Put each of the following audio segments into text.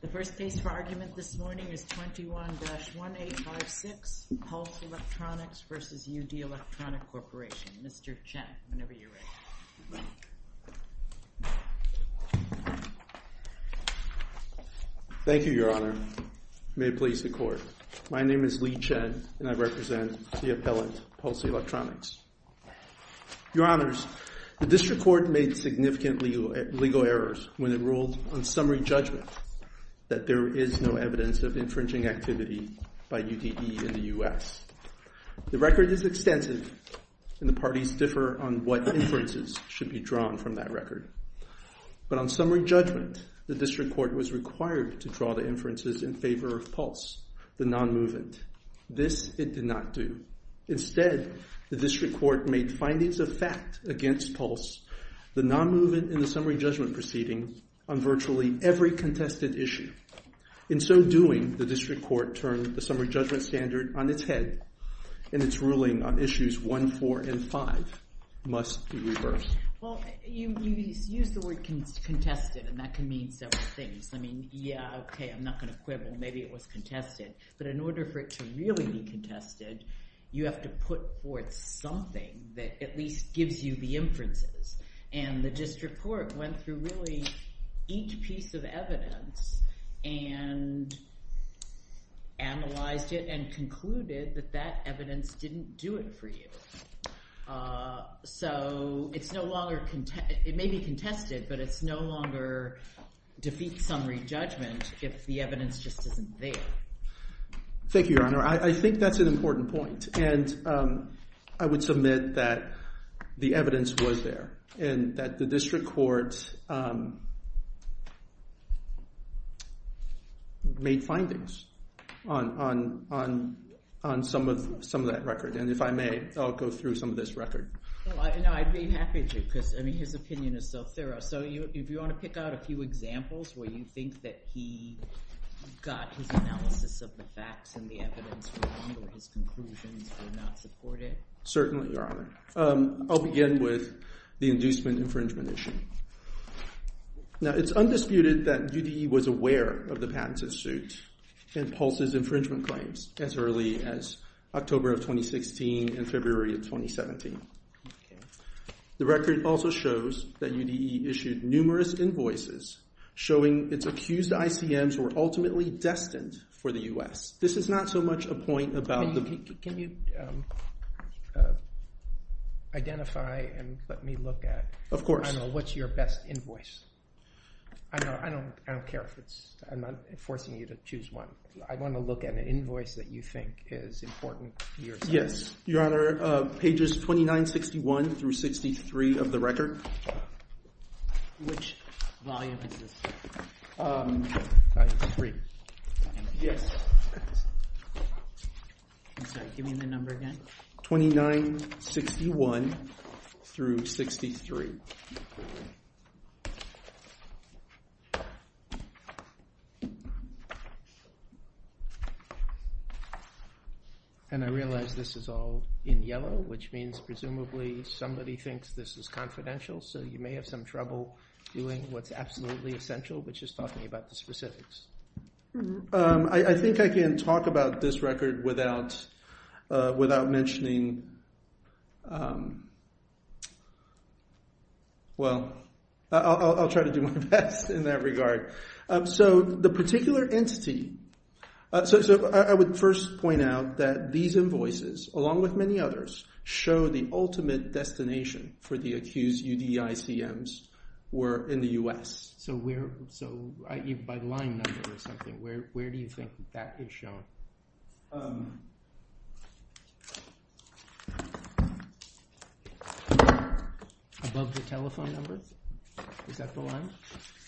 The first case for argument this morning is 21-1856, Pulse Electronics v. U.D. Electronic Corporation. Mr. Chen, whenever you're ready. Thank you, Your Honor. May it please the Court. My name is Lee Chen, and I represent the appellant, Pulse Electronics. Your Honors, the District Court made significant legal errors when it ruled on summary judgment that there is no evidence of infringing activity by U.D.E. in the U.S. The record is extensive, and the parties differ on what inferences should be drawn from that record. But on summary judgment, the District Court was required to draw the inferences in favor of Pulse, the non-movement. This it did not do. Instead, the District Court made findings of fact against Pulse, the non-movement in the summary judgment proceeding, on virtually every contested issue. In so doing, the District Court turned the summary judgment standard on its head, and its ruling on issues 1, 4, and 5 must be reversed. Well, you used the word contested, and that can mean several things. I mean, yeah, okay, I'm not going to quibble. Maybe it was contested. But in order for it to really be contested, you have to put forth something that at least gives you the inferences. And the District Court went through really each piece of evidence and analyzed it and concluded that that evidence didn't do it for you. So it's no longer—it may be contested, but it's no longer defeat summary judgment if the evidence just isn't there. Thank you, Your Honor. I think that's an important point, and I would submit that the evidence was there, and that the District Court made findings on some of that record. And if I may, I'll go through some of this record. Well, I'd be happy to, because I mean, his opinion is so thorough. So if you want to pick out a few examples where you think that he got his analysis of the facts and the evidence wrong or his conclusions were not supported. Certainly, Your Honor. I'll begin with the inducement infringement issue. Now, it's undisputed that UDE was aware of the patent suit and Pulse's infringement claims as early as October of 2016 and February of 2017. The record also shows that UDE issued numerous invoices showing its accused ICMs were ultimately destined for the U.S. This is not so much a point about the— Can you identify and let me look at— Of course. I don't know. What's your best invoice? I don't care if it's—I'm not forcing you to choose one. I want to look at an invoice that you think is important. Yes. Your Honor, pages 2961 through 63 of the record. Which volume is this? Three. Yes. I'm sorry. Give me the number again. 2961 through 63. And I realize this is all in yellow, which means presumably somebody thinks this is confidential. So you may have some trouble viewing what's absolutely essential, but just talk to me about the specifics. I think I can talk about this record without mentioning— Well, I'll try to do my best in that regard. So the particular entity—so I would first point out that these invoices, along with many others, show the ultimate destination for the accused UDE ICMs were in the U.S. So where—by line number or something, where do you think that is shown? Above the telephone number? Is that the line?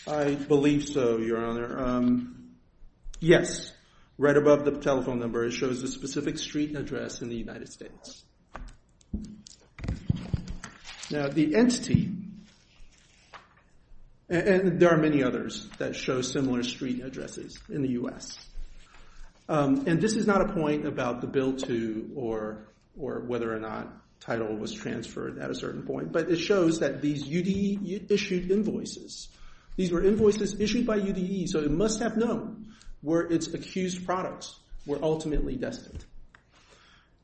I believe so, Your Honor. Yes. Right above the telephone number, it shows the specific street address in the United States. Now, the entity—and there are many others that show similar street addresses in the U.S. And this is not a point about the bill to or whether or not title was transferred at a certain point, but it shows that these UDE-issued invoices—these were invoices issued by UDE, so it must have known where its accused products were ultimately destined.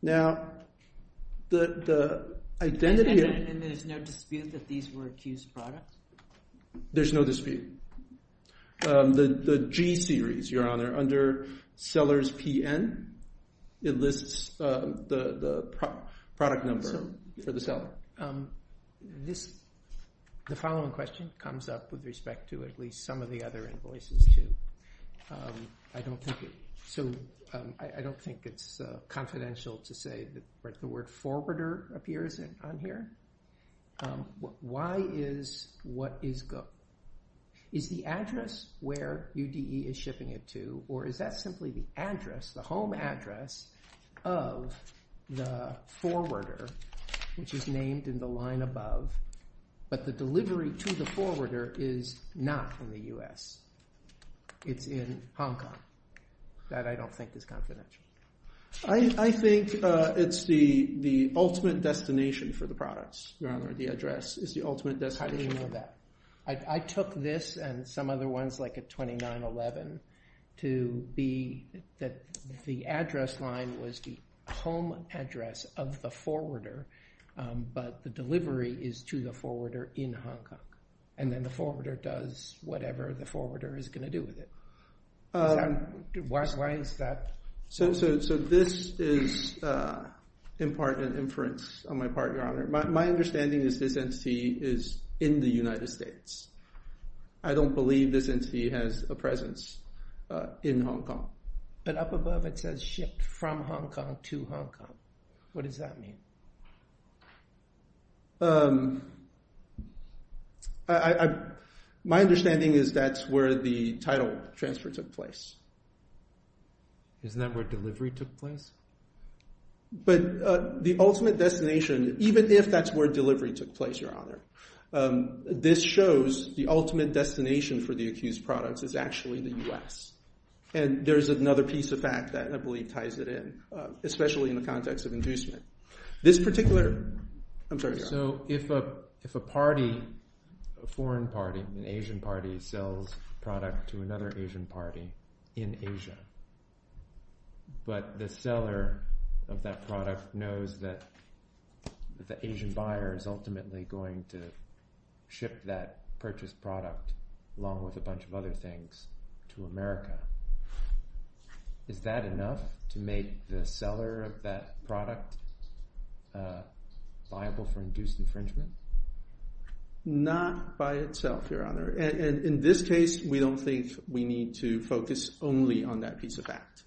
Now, the identity— And there's no dispute that these were accused products? There's no dispute. The G-series, Your Honor, under sellers PN, it lists the product number for the seller. The following question comes up with respect to at least some of the other invoices, too. I don't think it's confidential to say that the word forwarder appears on here. Why is—what is—is the address where UDE is shipping it to, or is that simply the address, the home address of the forwarder, which is named in the line above, but the delivery to the forwarder is not in the U.S.? It's in Hong Kong. That I don't think is confidential. I think it's the ultimate destination for the products, Your Honor. The address is the ultimate destination. How do you know that? I took this and some other ones, like a 2911, to be that the address line was the home address of the forwarder, but the delivery is to the forwarder in Hong Kong, and then the forwarder does whatever the forwarder is going to do with it. Why is that? So this is in part an inference on my part, Your Honor. My understanding is this entity is in the United States. I don't believe this entity has a presence in Hong Kong. But up above it says shipped from Hong Kong to Hong Kong. What does that mean? My understanding is that's where the title transfer took place. Isn't that where delivery took place? But the ultimate destination, even if that's where delivery took place, Your Honor, this shows the ultimate destination for the accused products is actually the U.S. And there's another piece of fact that I believe ties it in, especially in the context of inducement. This particular... I'm sorry, Your Honor. So if a party, a foreign party, an Asian party, sells a product to another Asian party in Asia, but the seller of that product knows that the Asian buyer is ultimately going to ship that purchased product along with a bunch of other things to America, is that enough to make the seller of that product viable for induced infringement? Not by itself, Your Honor. In this case, we don't think we need to focus only on that piece of fact.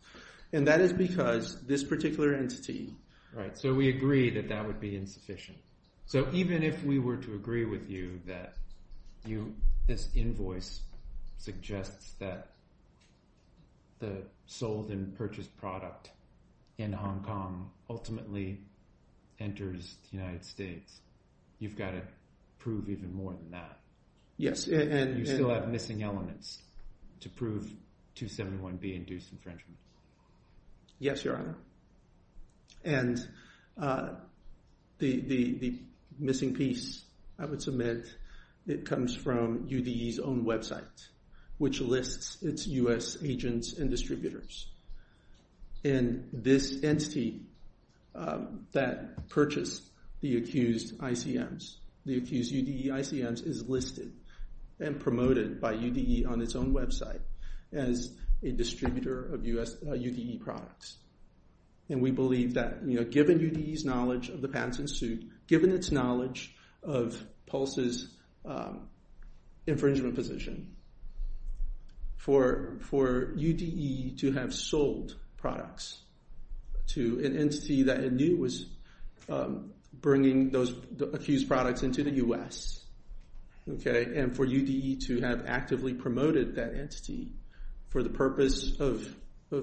And that is because this particular entity... Right, so we agree that that would be insufficient. So even if we were to agree with you that this invoice suggests that the sold and purchased product in Hong Kong ultimately enters the United States, you've got to prove even more than that. Yes, and... You still have missing elements to prove 271B induced infringement. Yes, Your Honor. And the missing piece, I would submit, it comes from UDE's own website, which lists its U.S. agents and distributors. And this entity that purchased the accused ICMs, the accused UDE ICMs, is listed and promoted by UDE on its own website as a distributor of UDE products. And we believe that given UDE's knowledge of the patents in suit, given its knowledge of PULSE's infringement position, for UDE to have sold products to an entity that it knew was bringing those accused products into the U.S., and for UDE to have actively promoted that entity for the purpose of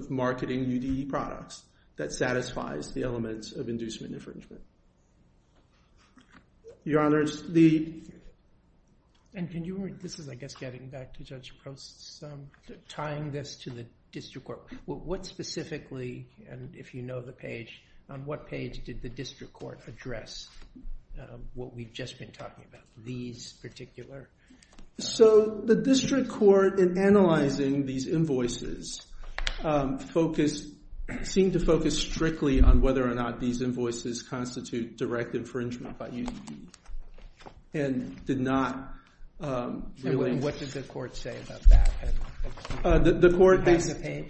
marketing UDE products, that satisfies the elements of inducement infringement. Your Honors, the... And can you... This is, I guess, getting back to Judge Post's... tying this to the district court. What specifically, and if you know the page, on what page did the district court address what we've just been talking about? These particular... So, the district court, in analyzing these invoices, seemed to focus strictly on whether or not these invoices constitute direct infringement by UDE. And did not... And what did the court say about that? The court basically...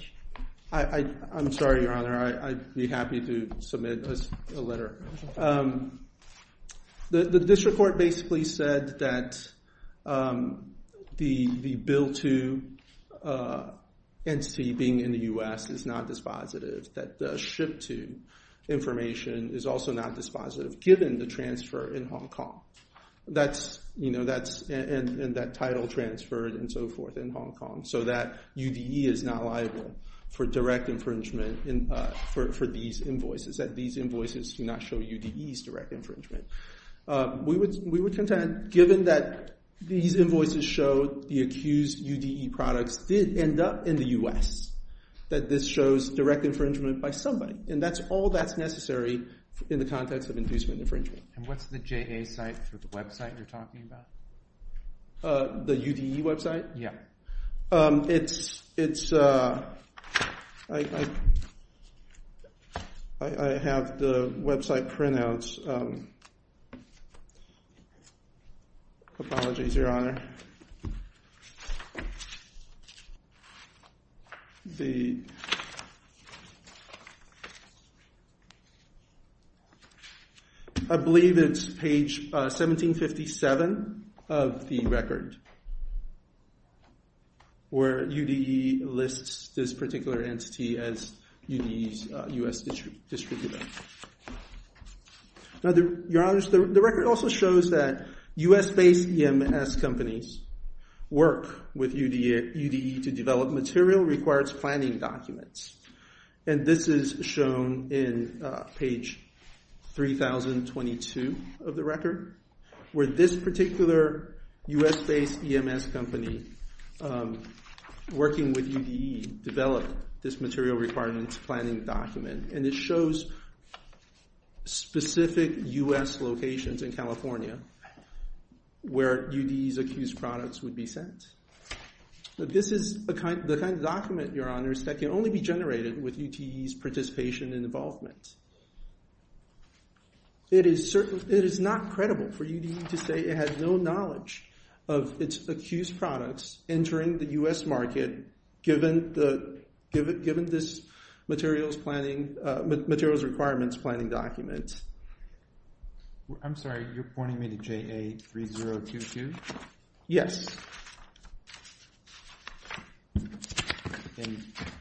I'm sorry, Your Honor. I'd be happy to submit a letter. The district court basically said that the bill to NC being in the U.S. is not dispositive. That the ship to information is also not dispositive, given the transfer in Hong Kong. That's... And that title transferred and so forth in Hong Kong. So that UDE is not liable for direct infringement for these invoices. That these invoices do not show UDE's direct infringement. We would contend, given that these invoices show the accused UDE products did end up in the U.S., that this shows direct infringement by somebody. And that's all that's necessary in the context of inducement infringement. And what's the JA site for the website you're talking about? The UDE website? Yeah. It's... I have the website printouts. Apologies, Your Honor. And... The... I believe it's page 1757 of the record. Where UDE lists this particular entity as UDE's U.S. district defense. Now, Your Honor, the record also shows that U.S.-based EMS companies work with UDE to develop material requirements planning documents. And this is shown in page 3022 of the record. Where this particular U.S.-based EMS company working with UDE developed this material requirements planning document. And it shows specific U.S. locations in California. Where UDE's accused products would be sent. But this is the kind of document, Your Honor, that can only be generated with UDE's participation and involvement. It is not credible for UDE to say it has no knowledge of its accused products entering the U.S. market given this materials requirements planning document. I'm sorry, you're pointing me to JA3022? Yes.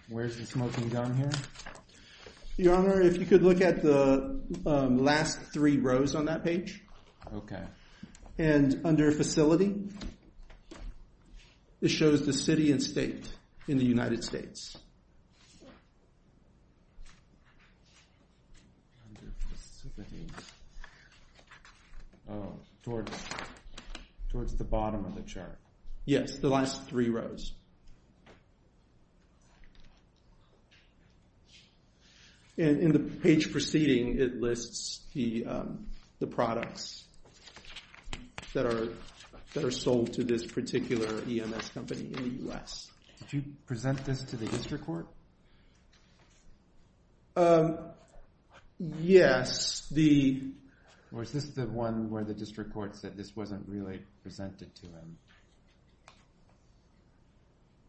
Where's the smoking gun here? Your Honor, if you could look at the last three rows on that page. Okay. And under facility, it shows the city and state in the United States. Under facility. Towards the bottom of the chart. Yes, the last three rows. And in the page preceding, it lists the products that are sold to this particular EMS company in the U.S. Did you present this to the history department? The district court? Yes, the... Or is this the one where the district court said this wasn't really presented to him?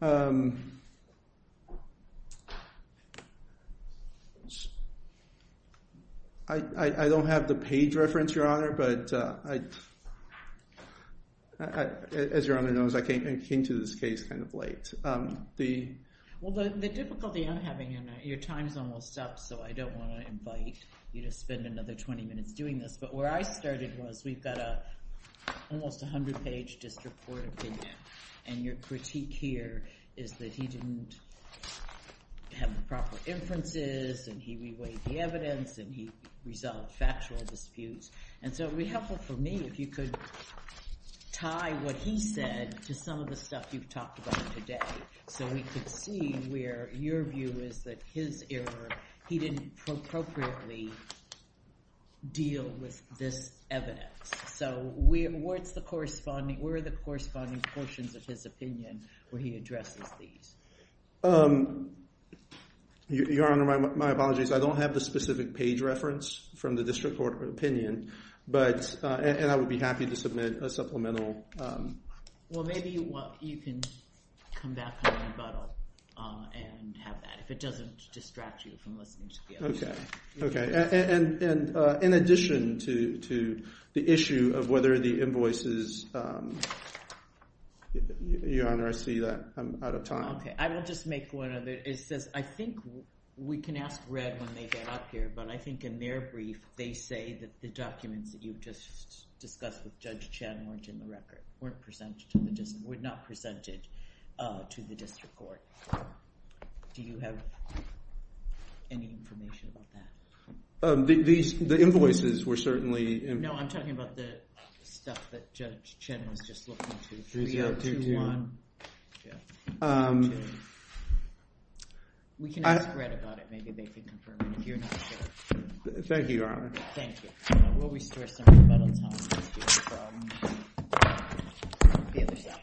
I don't have the page reference, Your Honor, but as Your Honor knows, I came to this case kind of late. The... Well, the difficulty I'm having, Your Honor, your time's almost up, so I don't want to invite you to spend another 20 minutes doing this, but where I started was we've got a almost 100-page district court opinion, and your critique here is that he didn't have the proper inferences and he reweighed the evidence and he resolved factual disputes. And so it would be helpful for me if you could tie what he said to some of the stuff you've talked about today so we could see where your view is that his error, he didn't appropriately deal with this evidence. So where are the corresponding portions of his opinion where he addresses these? Your Honor, my apologies, I don't have the specific page reference from the district court opinion, but... And I would be happy to submit a supplemental... Well, maybe you can come back and rebuttal and have that, if it doesn't distract you from listening to the other side. Okay. And in addition to the issue of whether the invoices... Your Honor, I see that I'm out of time. Okay, I will just make one other... It says, I think we can ask Red when they get up here, but I think in their brief, they say that the documents that you've just discussed with Judge Chen weren't in the record. Weren't presented to the district, were not presented to the district court. Do you have any information about that? The invoices were certainly... No, I'm talking about the stuff that Judge Chen was just looking to. 3021... We can ask Red about it, maybe they can confirm it, if you're not sure. Thank you, Your Honor. Thank you. We'll restore some rebuttal time from the other side.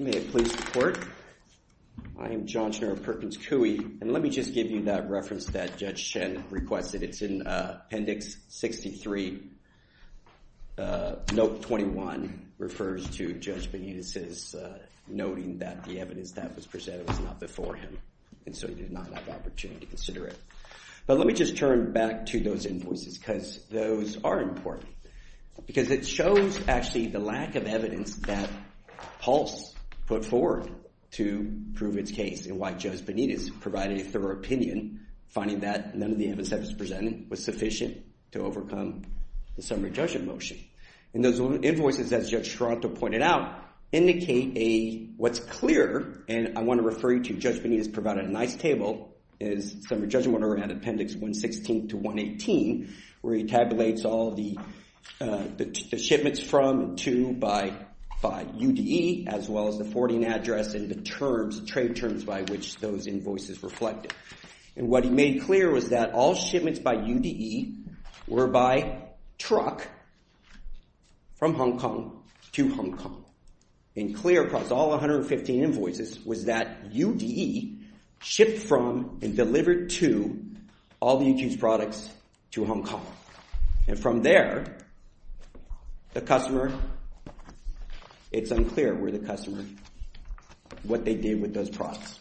May I please report? I am John Schnurr of Perkins Coie, and let me just give you that reference that Judge Chen requested. It's in Appendix 63. Note 21 refers to Judge Benitez's noting that the evidence that was presented was not before him, and so he did not have the opportunity to consider it. But let me just turn back to those invoices, because those are important. Because it shows, actually, the lack of evidence that Pulse put forward to prove its case, and why Judge Benitez provided a thorough opinion, finding that none of the evidence that was presented was sufficient to overcome the summary judgment motion. And those invoices, as Judge Toronto pointed out, indicate a... What's clear, and I want to refer you to Judge Benitez provided a nice table, is summary judgment order at Appendix 116 to 118, where he tabulates all the shipments from and to by UDE, as well as the forwarding address and the terms, trade terms by which those invoices reflected. And what he made clear was that all shipments by UDE were by truck from Hong Kong to Hong Kong. And clear across all 115 invoices was that UDE shipped from and delivered to all the UQ's products to Hong Kong. And from there, the customer... It's unclear where the customer... What they did with those products.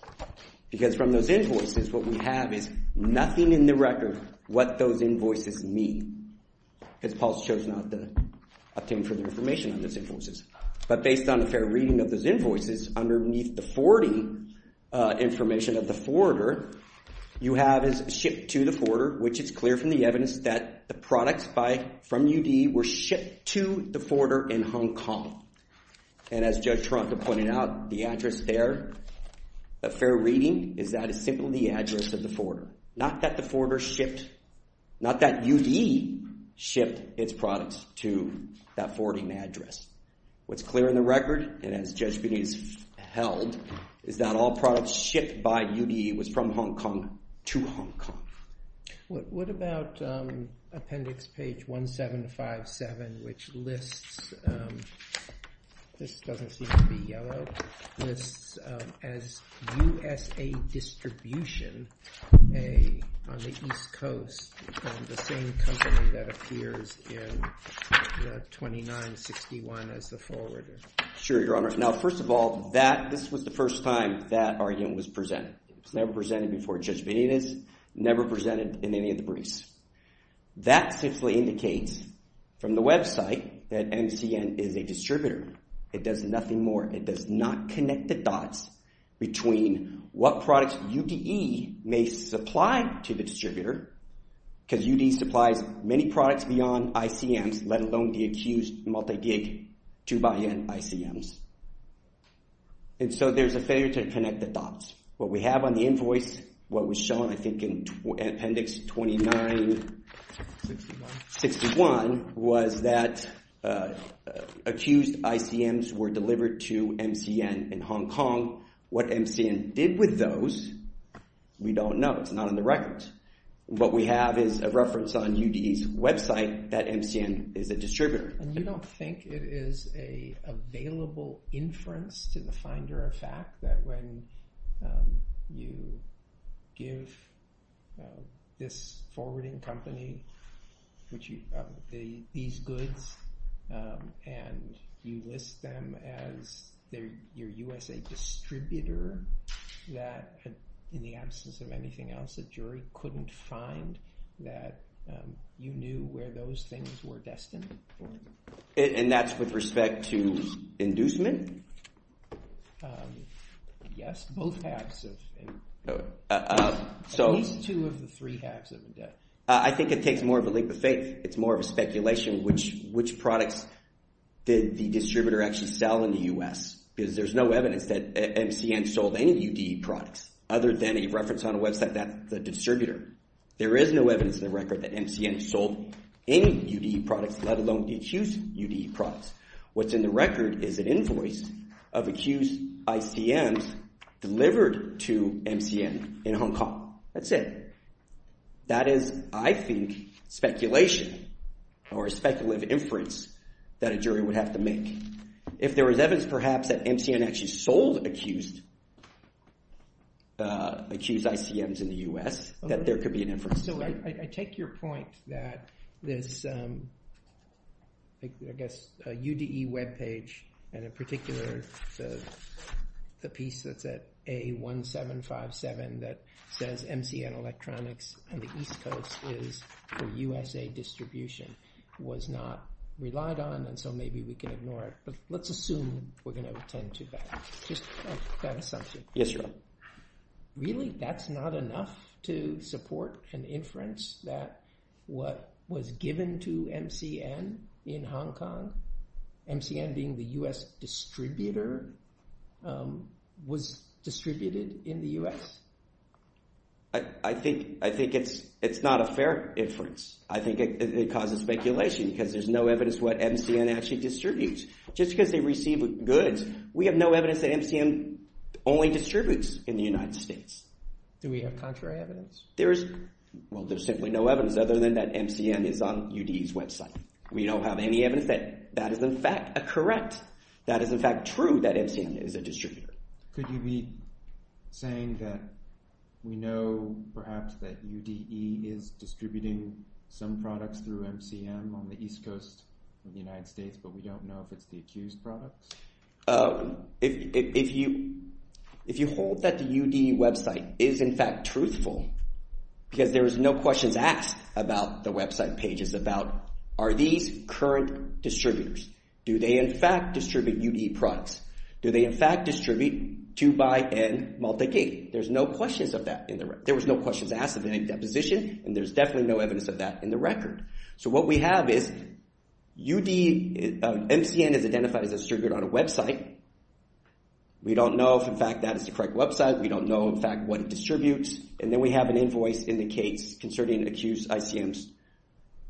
Because from those invoices, what we have is nothing in the record what those invoices mean. Because Pulse chose not to obtain further information on those invoices. But based on a fair reading of those invoices, underneath the 40 information of the forwarder, you have is shipped to the forwarder, which is clear from the evidence that the products from UDE were shipped to the forwarder in Hong Kong. And as Judge Toronto pointed out, the address there, a fair reading, is that it's simply the address of the forwarder. Not that the forwarder shipped... Not that UDE shipped its products to that forwarding address. What's clear in the record, and as Judge Benitez held, is that all products shipped by UDE was from Hong Kong to Hong Kong. What about Appendix Page 1757, which lists... This doesn't seem to be yellow... lists as USA Distribution on the East Coast, the same company that appears in 2961 as the forwarder? Sure, Your Honor. Now, first of all, this was the first time that argument was presented. It was never presented before Judge Benitez, never presented in any of the briefs. That simply indicates from the website that MCN is a distributor. It does nothing more. It does not connect the dots between what products UDE may supply to the distributor, because UDE supplies many products beyond ICMs, let alone the accused multi-gig 2xN ICMs. And so there's a failure to connect the dots. What we have on the invoice, what was shown, I think, in Appendix 2961, was that accused ICMs were delivered to MCN in Hong Kong. What MCN did with those, we don't know. It's not on the records. What we have is a reference on UDE's website that MCN is a distributor. And you don't think it is a available inference to the finder of fact that when you give this forwarding company these goods and you list them as your USA distributor that in the absence of anything else, the jury couldn't find that you knew where those things were destined for. And that's with respect to inducement? Yes, both halves. At least two of the three halves of the debt. I think it takes more of a leap of faith. It's more of a speculation which products did the distributor actually sell in the U.S. Because there's no evidence that MCN sold any of the UDE products other than a reference on a website that's the distributor. There is no evidence in the record that MCN sold any UDE products let alone the accused UDE products. What's in the record is an invoice of accused ICMs delivered to MCN in Hong Kong. That's it. That is, I think, speculation or a speculative inference that a jury would have to make. If there was evidence perhaps that MCN actually sold accused ICMs in the U.S. that there could be an inference. So I take your point that this UDE webpage and in particular the piece that's at A1757 that says MCN Electronics on the East Coast is for USA distribution was not relied on and so maybe we can ignore it. But let's assume we're going to attend to that. Just that assumption. Yes, Your Honor. Really, that's not enough to support an inference that what was given to MCN in Hong Kong MCN being the U.S. distributor was distributed in the U.S. I think it's not a fair inference. I think it causes speculation because there's no evidence what MCN actually distributes. Just because they receive goods we have no evidence that MCN only distributes in the United States. Do we have contrary evidence? Well, there's simply no evidence other than that MCN is on UDE's website. We don't have any evidence that that is in fact correct. That is in fact true that MCN is a distributor. Could you be saying that we know perhaps that UDE is distributing some products through MCN on the East Coast of the United States but we don't know if it's the accused products? If you hold that the UDE website is in fact truthful because there is no questions asked about the website pages about are these current distributors? Do they in fact distribute UDE products? Do they in fact distribute 2xN multi-gig? There's no questions of that in the record. There was no questions asked of any deposition and there's definitely no evidence of that in the record. So what we have is UDE MCN is identified as a distributor on a website. We don't know if in fact that is the correct website. We don't know in fact what it distributes. And then we have an invoice indicates concerning accused ICMs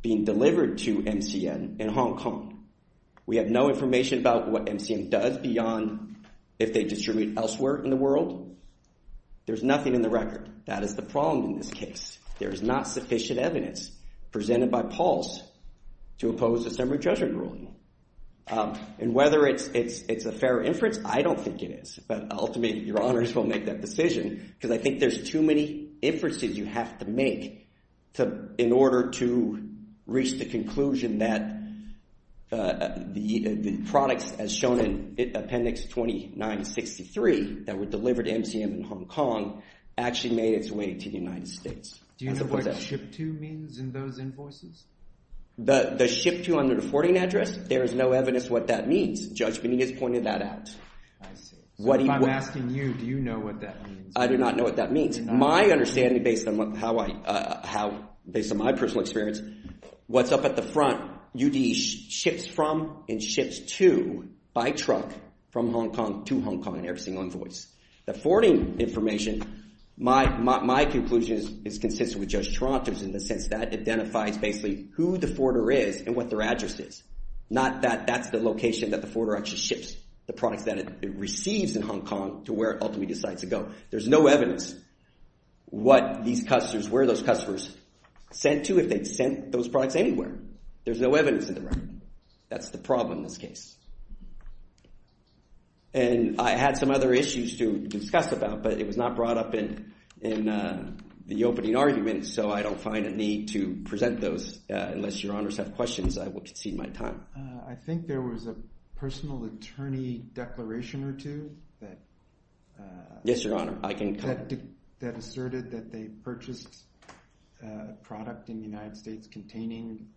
being delivered to MCN in Hong Kong. We have no information about what MCN does beyond if they distribute elsewhere in the world. There's nothing in the record. That is the problem in this case. There is not sufficient evidence presented by Pulse to oppose a summary judgment ruling. And whether it's a fair inference I don't think it is. But ultimately your honors will make that decision because I think there's too many inferences you have to make in order to reach the conclusion that the products as shown in appendix 2963 that were delivered to MCN in Hong Kong actually made its way to the United States. Do you know what SHIP-2 means in those invoices? The SHIP-2 under the forwarding address? There is no evidence what that means. Judge Benitez pointed that out. I see. If I'm asking you do you know what that means? I do not know what that means. My understanding based on how I based on my personal experience what's up at the front UD ships from and ships to by truck from Hong Kong to Hong Kong in every single invoice. The forwarding information my conclusion is consistent with Judge Toronto's in the sense that identifies basically who the forwarder is and what their address is. Not that that's the location that the forwarder actually ships the products that it receives in Hong Kong to where it ultimately decides to go. There's no evidence what these customers where those customers sent to if they sent those products anywhere. There's no evidence in the record. That's the problem in this case. And I had some other issues to discuss about but it was not brought up in in the opening argument so I don't find a need to present those unless your Honours have questions I will concede my time. I think there was a personal attorney declaration or two that Yes Your Honour I can that asserted that they purchased a product in the United States containing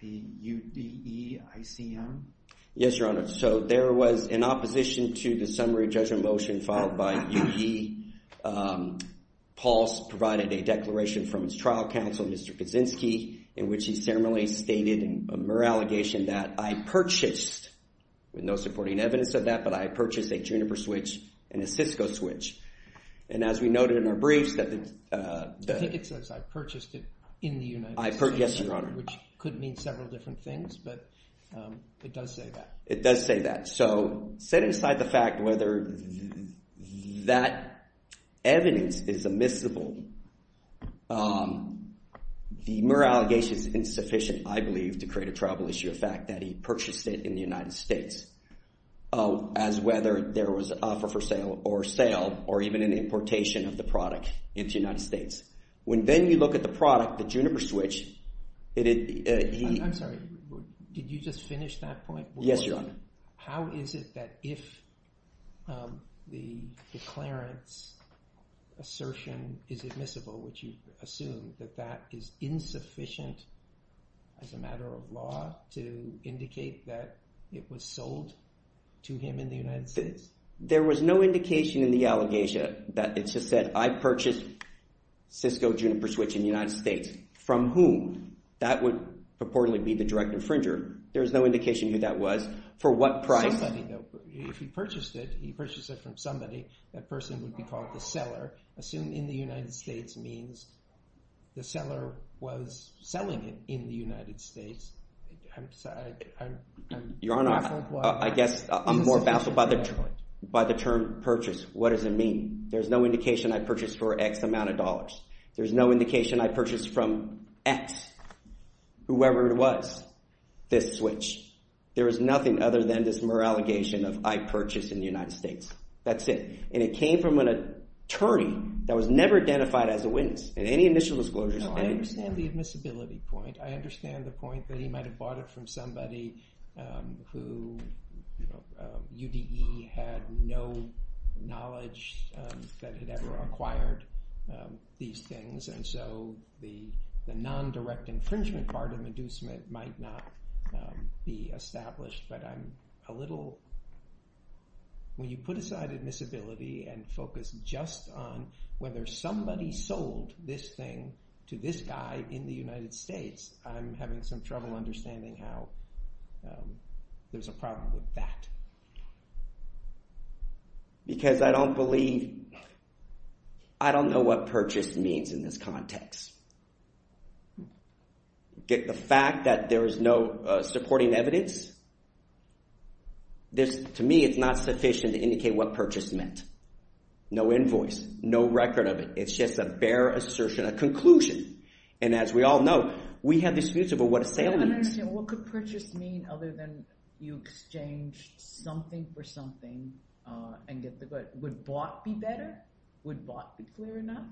the UDE ICM Yes Your Honour so there was in opposition to the summary judgment motion followed by UE Paul provided a declaration from his trial counsel Mr. Kaczynski in which he ceremonially stated a mere allegation that I purchased with no supporting evidence of that but I purchased a Juniper switch and a Cisco switch and as we noted in our briefs that the I think it says I purchased it in the United States Yes Your Honour which could mean several different things but it does say that it does say that so set aside the fact whether that evidence is admissible the mere allegation is insufficient I believe to create a trouble issue of fact that he purchased it in the United States as whether there was an offer for sale or sale or even an importation of the product into the United States when then you look at the product the Juniper switch it I'm sorry did you just finish that point Yes Your Honour how is it that if the declarence assertion is admissible would you assume that that is insufficient as a matter of law to indicate that it was sold to him in the United States there was no indication in the allegation that it just said I purchased Cisco Juniper switch in the United States from whom that would purportedly be the direct infringer there is no indication who that was for what price if he purchased it he purchased it from somebody that person would be called the seller assume in the United States means the seller was selling it in the United States I'm sorry I'm Your Honour I guess I'm more baffled by the term purchase what does it mean there is no indication I purchased for X amount of dollars there is no indication I purchased from X whoever it was this switch there is nothing other than this mere allegation of I purchased in the United States that's it and it came from an attorney that was never identified as a witness and any initial disclosures I understand the admissibility point I understand the point that he might have bought it from somebody who you know UDE had no knowledge that had ever acquired these things and so the the non-direct infringement part of inducement might not be established but I'm a little when you put aside admissibility and focus just on whether somebody sold this thing to this guy in the United States I'm having some trouble understanding how there's a problem with that because I don't believe I don't know what purchase means in this context get the fact that there is no supporting evidence this to me it's not sufficient to indicate what purchase meant no invoice no record of it it's just a bare assertion a conclusion and as we all know we have disputes about what a sale means what could purchase mean other than you exchanged something for something and get the good would bought be better would bought be clear enough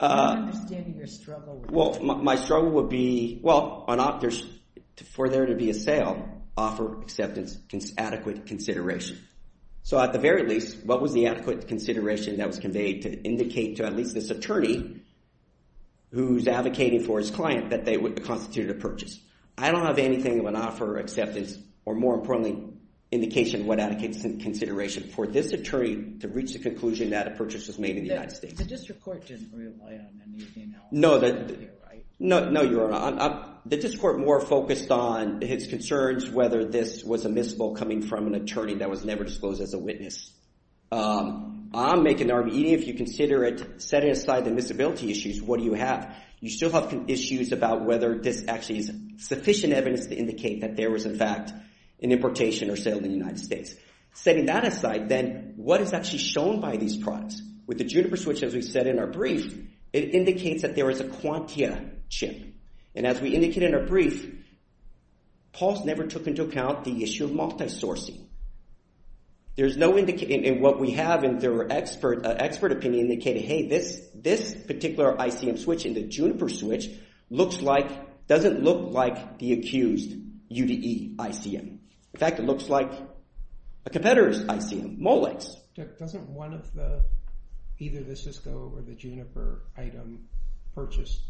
understanding your struggle well my struggle would be well for there to be a sale offer acceptance adequate consideration so at the very least what was the adequate consideration that was conveyed to indicate to at least this attorney who's advocating for his client that they would constitute a purchase I don't have anything of an offer acceptance or more importantly indication what adequate consideration for this attorney to reach the conclusion that a purchase was made in the United States no no you're not the court more focused on his concerns whether this was a miss able coming from an attorney that was never disclosed as a witness I'm making an argument if you consider it setting aside the miss ability issues what do you have you still have issues about whether this actually is sufficient evidence to indicate that there was in fact an importation or sale in the United States setting that aside then what is actually shown by these products with the Juniper switch as we said in our brief it indicates there is a Juniper switch in fact it looks like a competitor ICM Molex doesn't one of the either the Cisco or the Juniper item purchased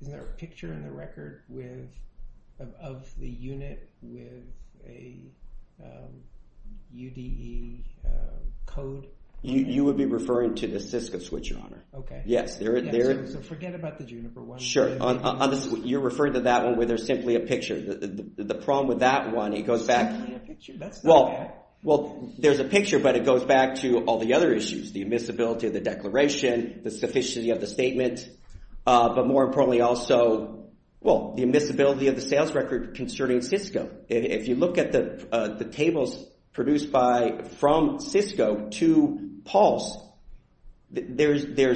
isn't there a picture in the record of the unit with a Juniper switch and the problem with that one it goes back well there's a picture but it goes back to all the other issues the emissibility of the declaration the there's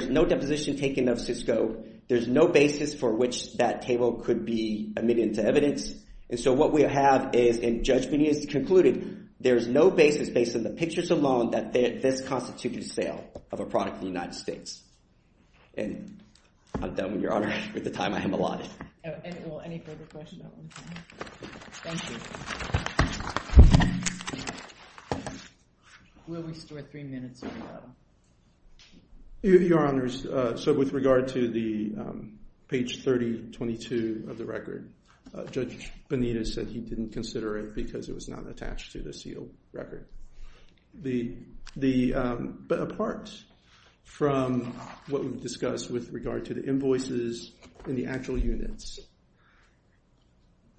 no deposition taken of Cisco there's no basis for which that table could be admitted to evidence so what we have is concluded there's no basis based on this constituted sale of a product in the United States and I've done with your honor with the time I have allotted any further question will restore three minutes your honors so with regard to the page 30 22 of the record judge Bonita said he didn't consider it because it was not attached to the seal record the apart from what we've discussed with regard to the invoices in the actual units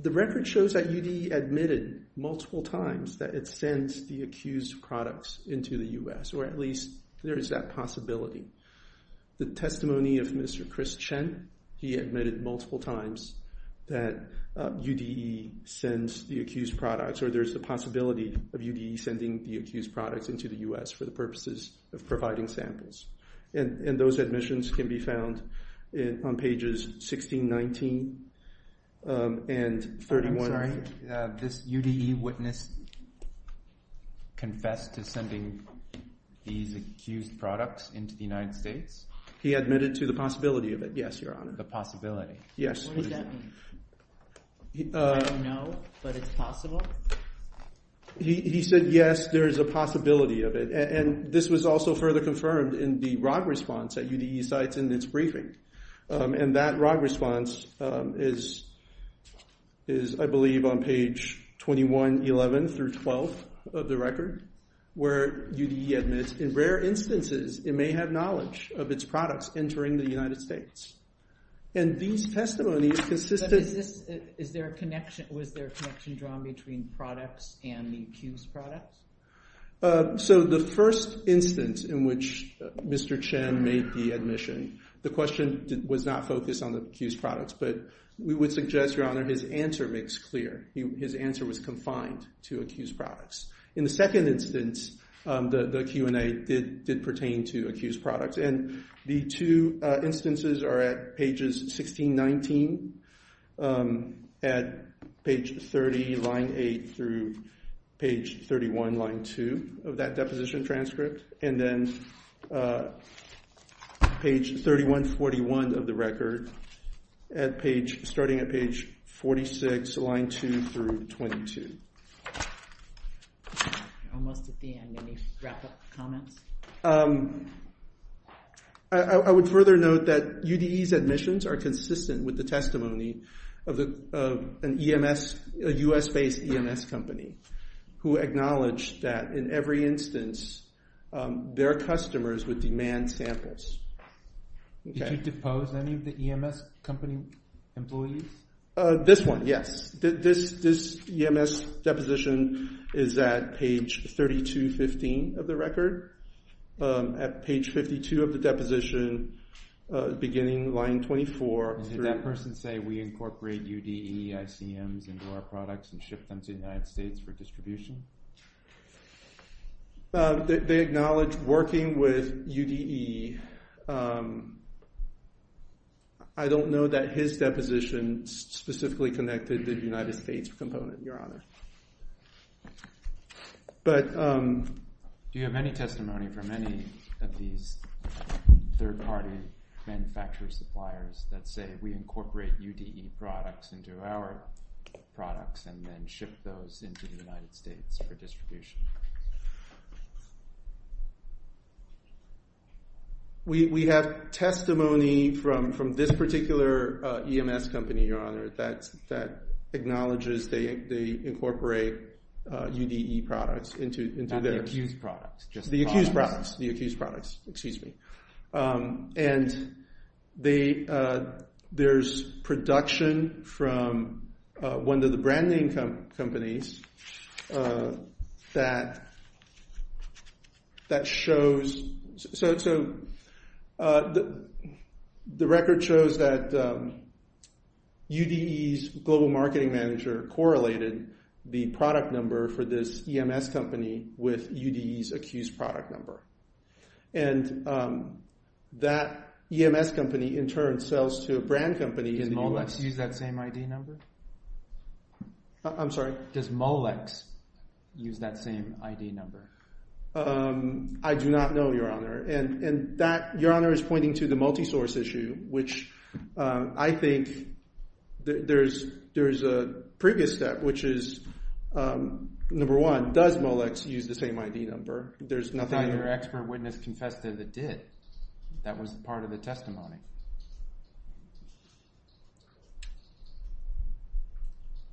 the record shows that the testimony of Mr. Chris Chen he admitted multiple times that UDE sends the accused products or there's a possibility of UDE sending the accused products into the U.S. for the purposes of providing samples and those admissions can be pages 16, 19 and 31. I'm sorry this UDE witness confessed to sending these accused products into the United States? He admitted to the possibility of it. Yes, your honor. The possibility. Yes. What does that mean? I don't know, but it's possible? He said yes, there's a possibility of it. And this was also further confirmed in the response in its briefing. And that response is I believe on page 21, 11 through 12 of the record where UDE admits in rare instances it may have knowledge of its products entering the United States. And these testimonies consisted Was there a connection drawn between products and the accused products? So the first instance in which Mr. Chen made the admission, the question was not focused on the accused products, but we would suggest your honor, his answer makes clear. His answer was confined to accused products. In the second instance, the Q&A did pertain to accused products. And the two instances are at pages 16, 19, at page 30, line 8 through page 31, line 2 of that deposition transcript. And then page 31, 41 of the record starting at page 46, line 2 through 22. Almost at the end. Any wrap-up comments? I would further note that UDE's admissions are consistent with the testimony of a U.S.-based EMS company who acknowledged that in every instance their customers would demand samples. Did you depose any of the EMS company employees? This one, yes. This EMS deposition is at page 32, 15 of the record. At page 52 of the deposition beginning line 24 through 22, line 3, line 7, line 8, line 9, line 10, line 11, line 12, line 13, line 14, line 15, line 16, line 23, line 24, line 25, line 26, line 27, line 28, line 29, line 30, line 31, 55, line 56, line 57, line 58, line 59, line 60, line 61, line 62, line 63, line 64, line 65, line 72, line 73, line 74, line 75, line 76, line 77, line 78, line 79, line 80, line 81, 83, line 86, line 87, line 88, line 89, line 90, line 91, line 92, line 93, line 94, line 94.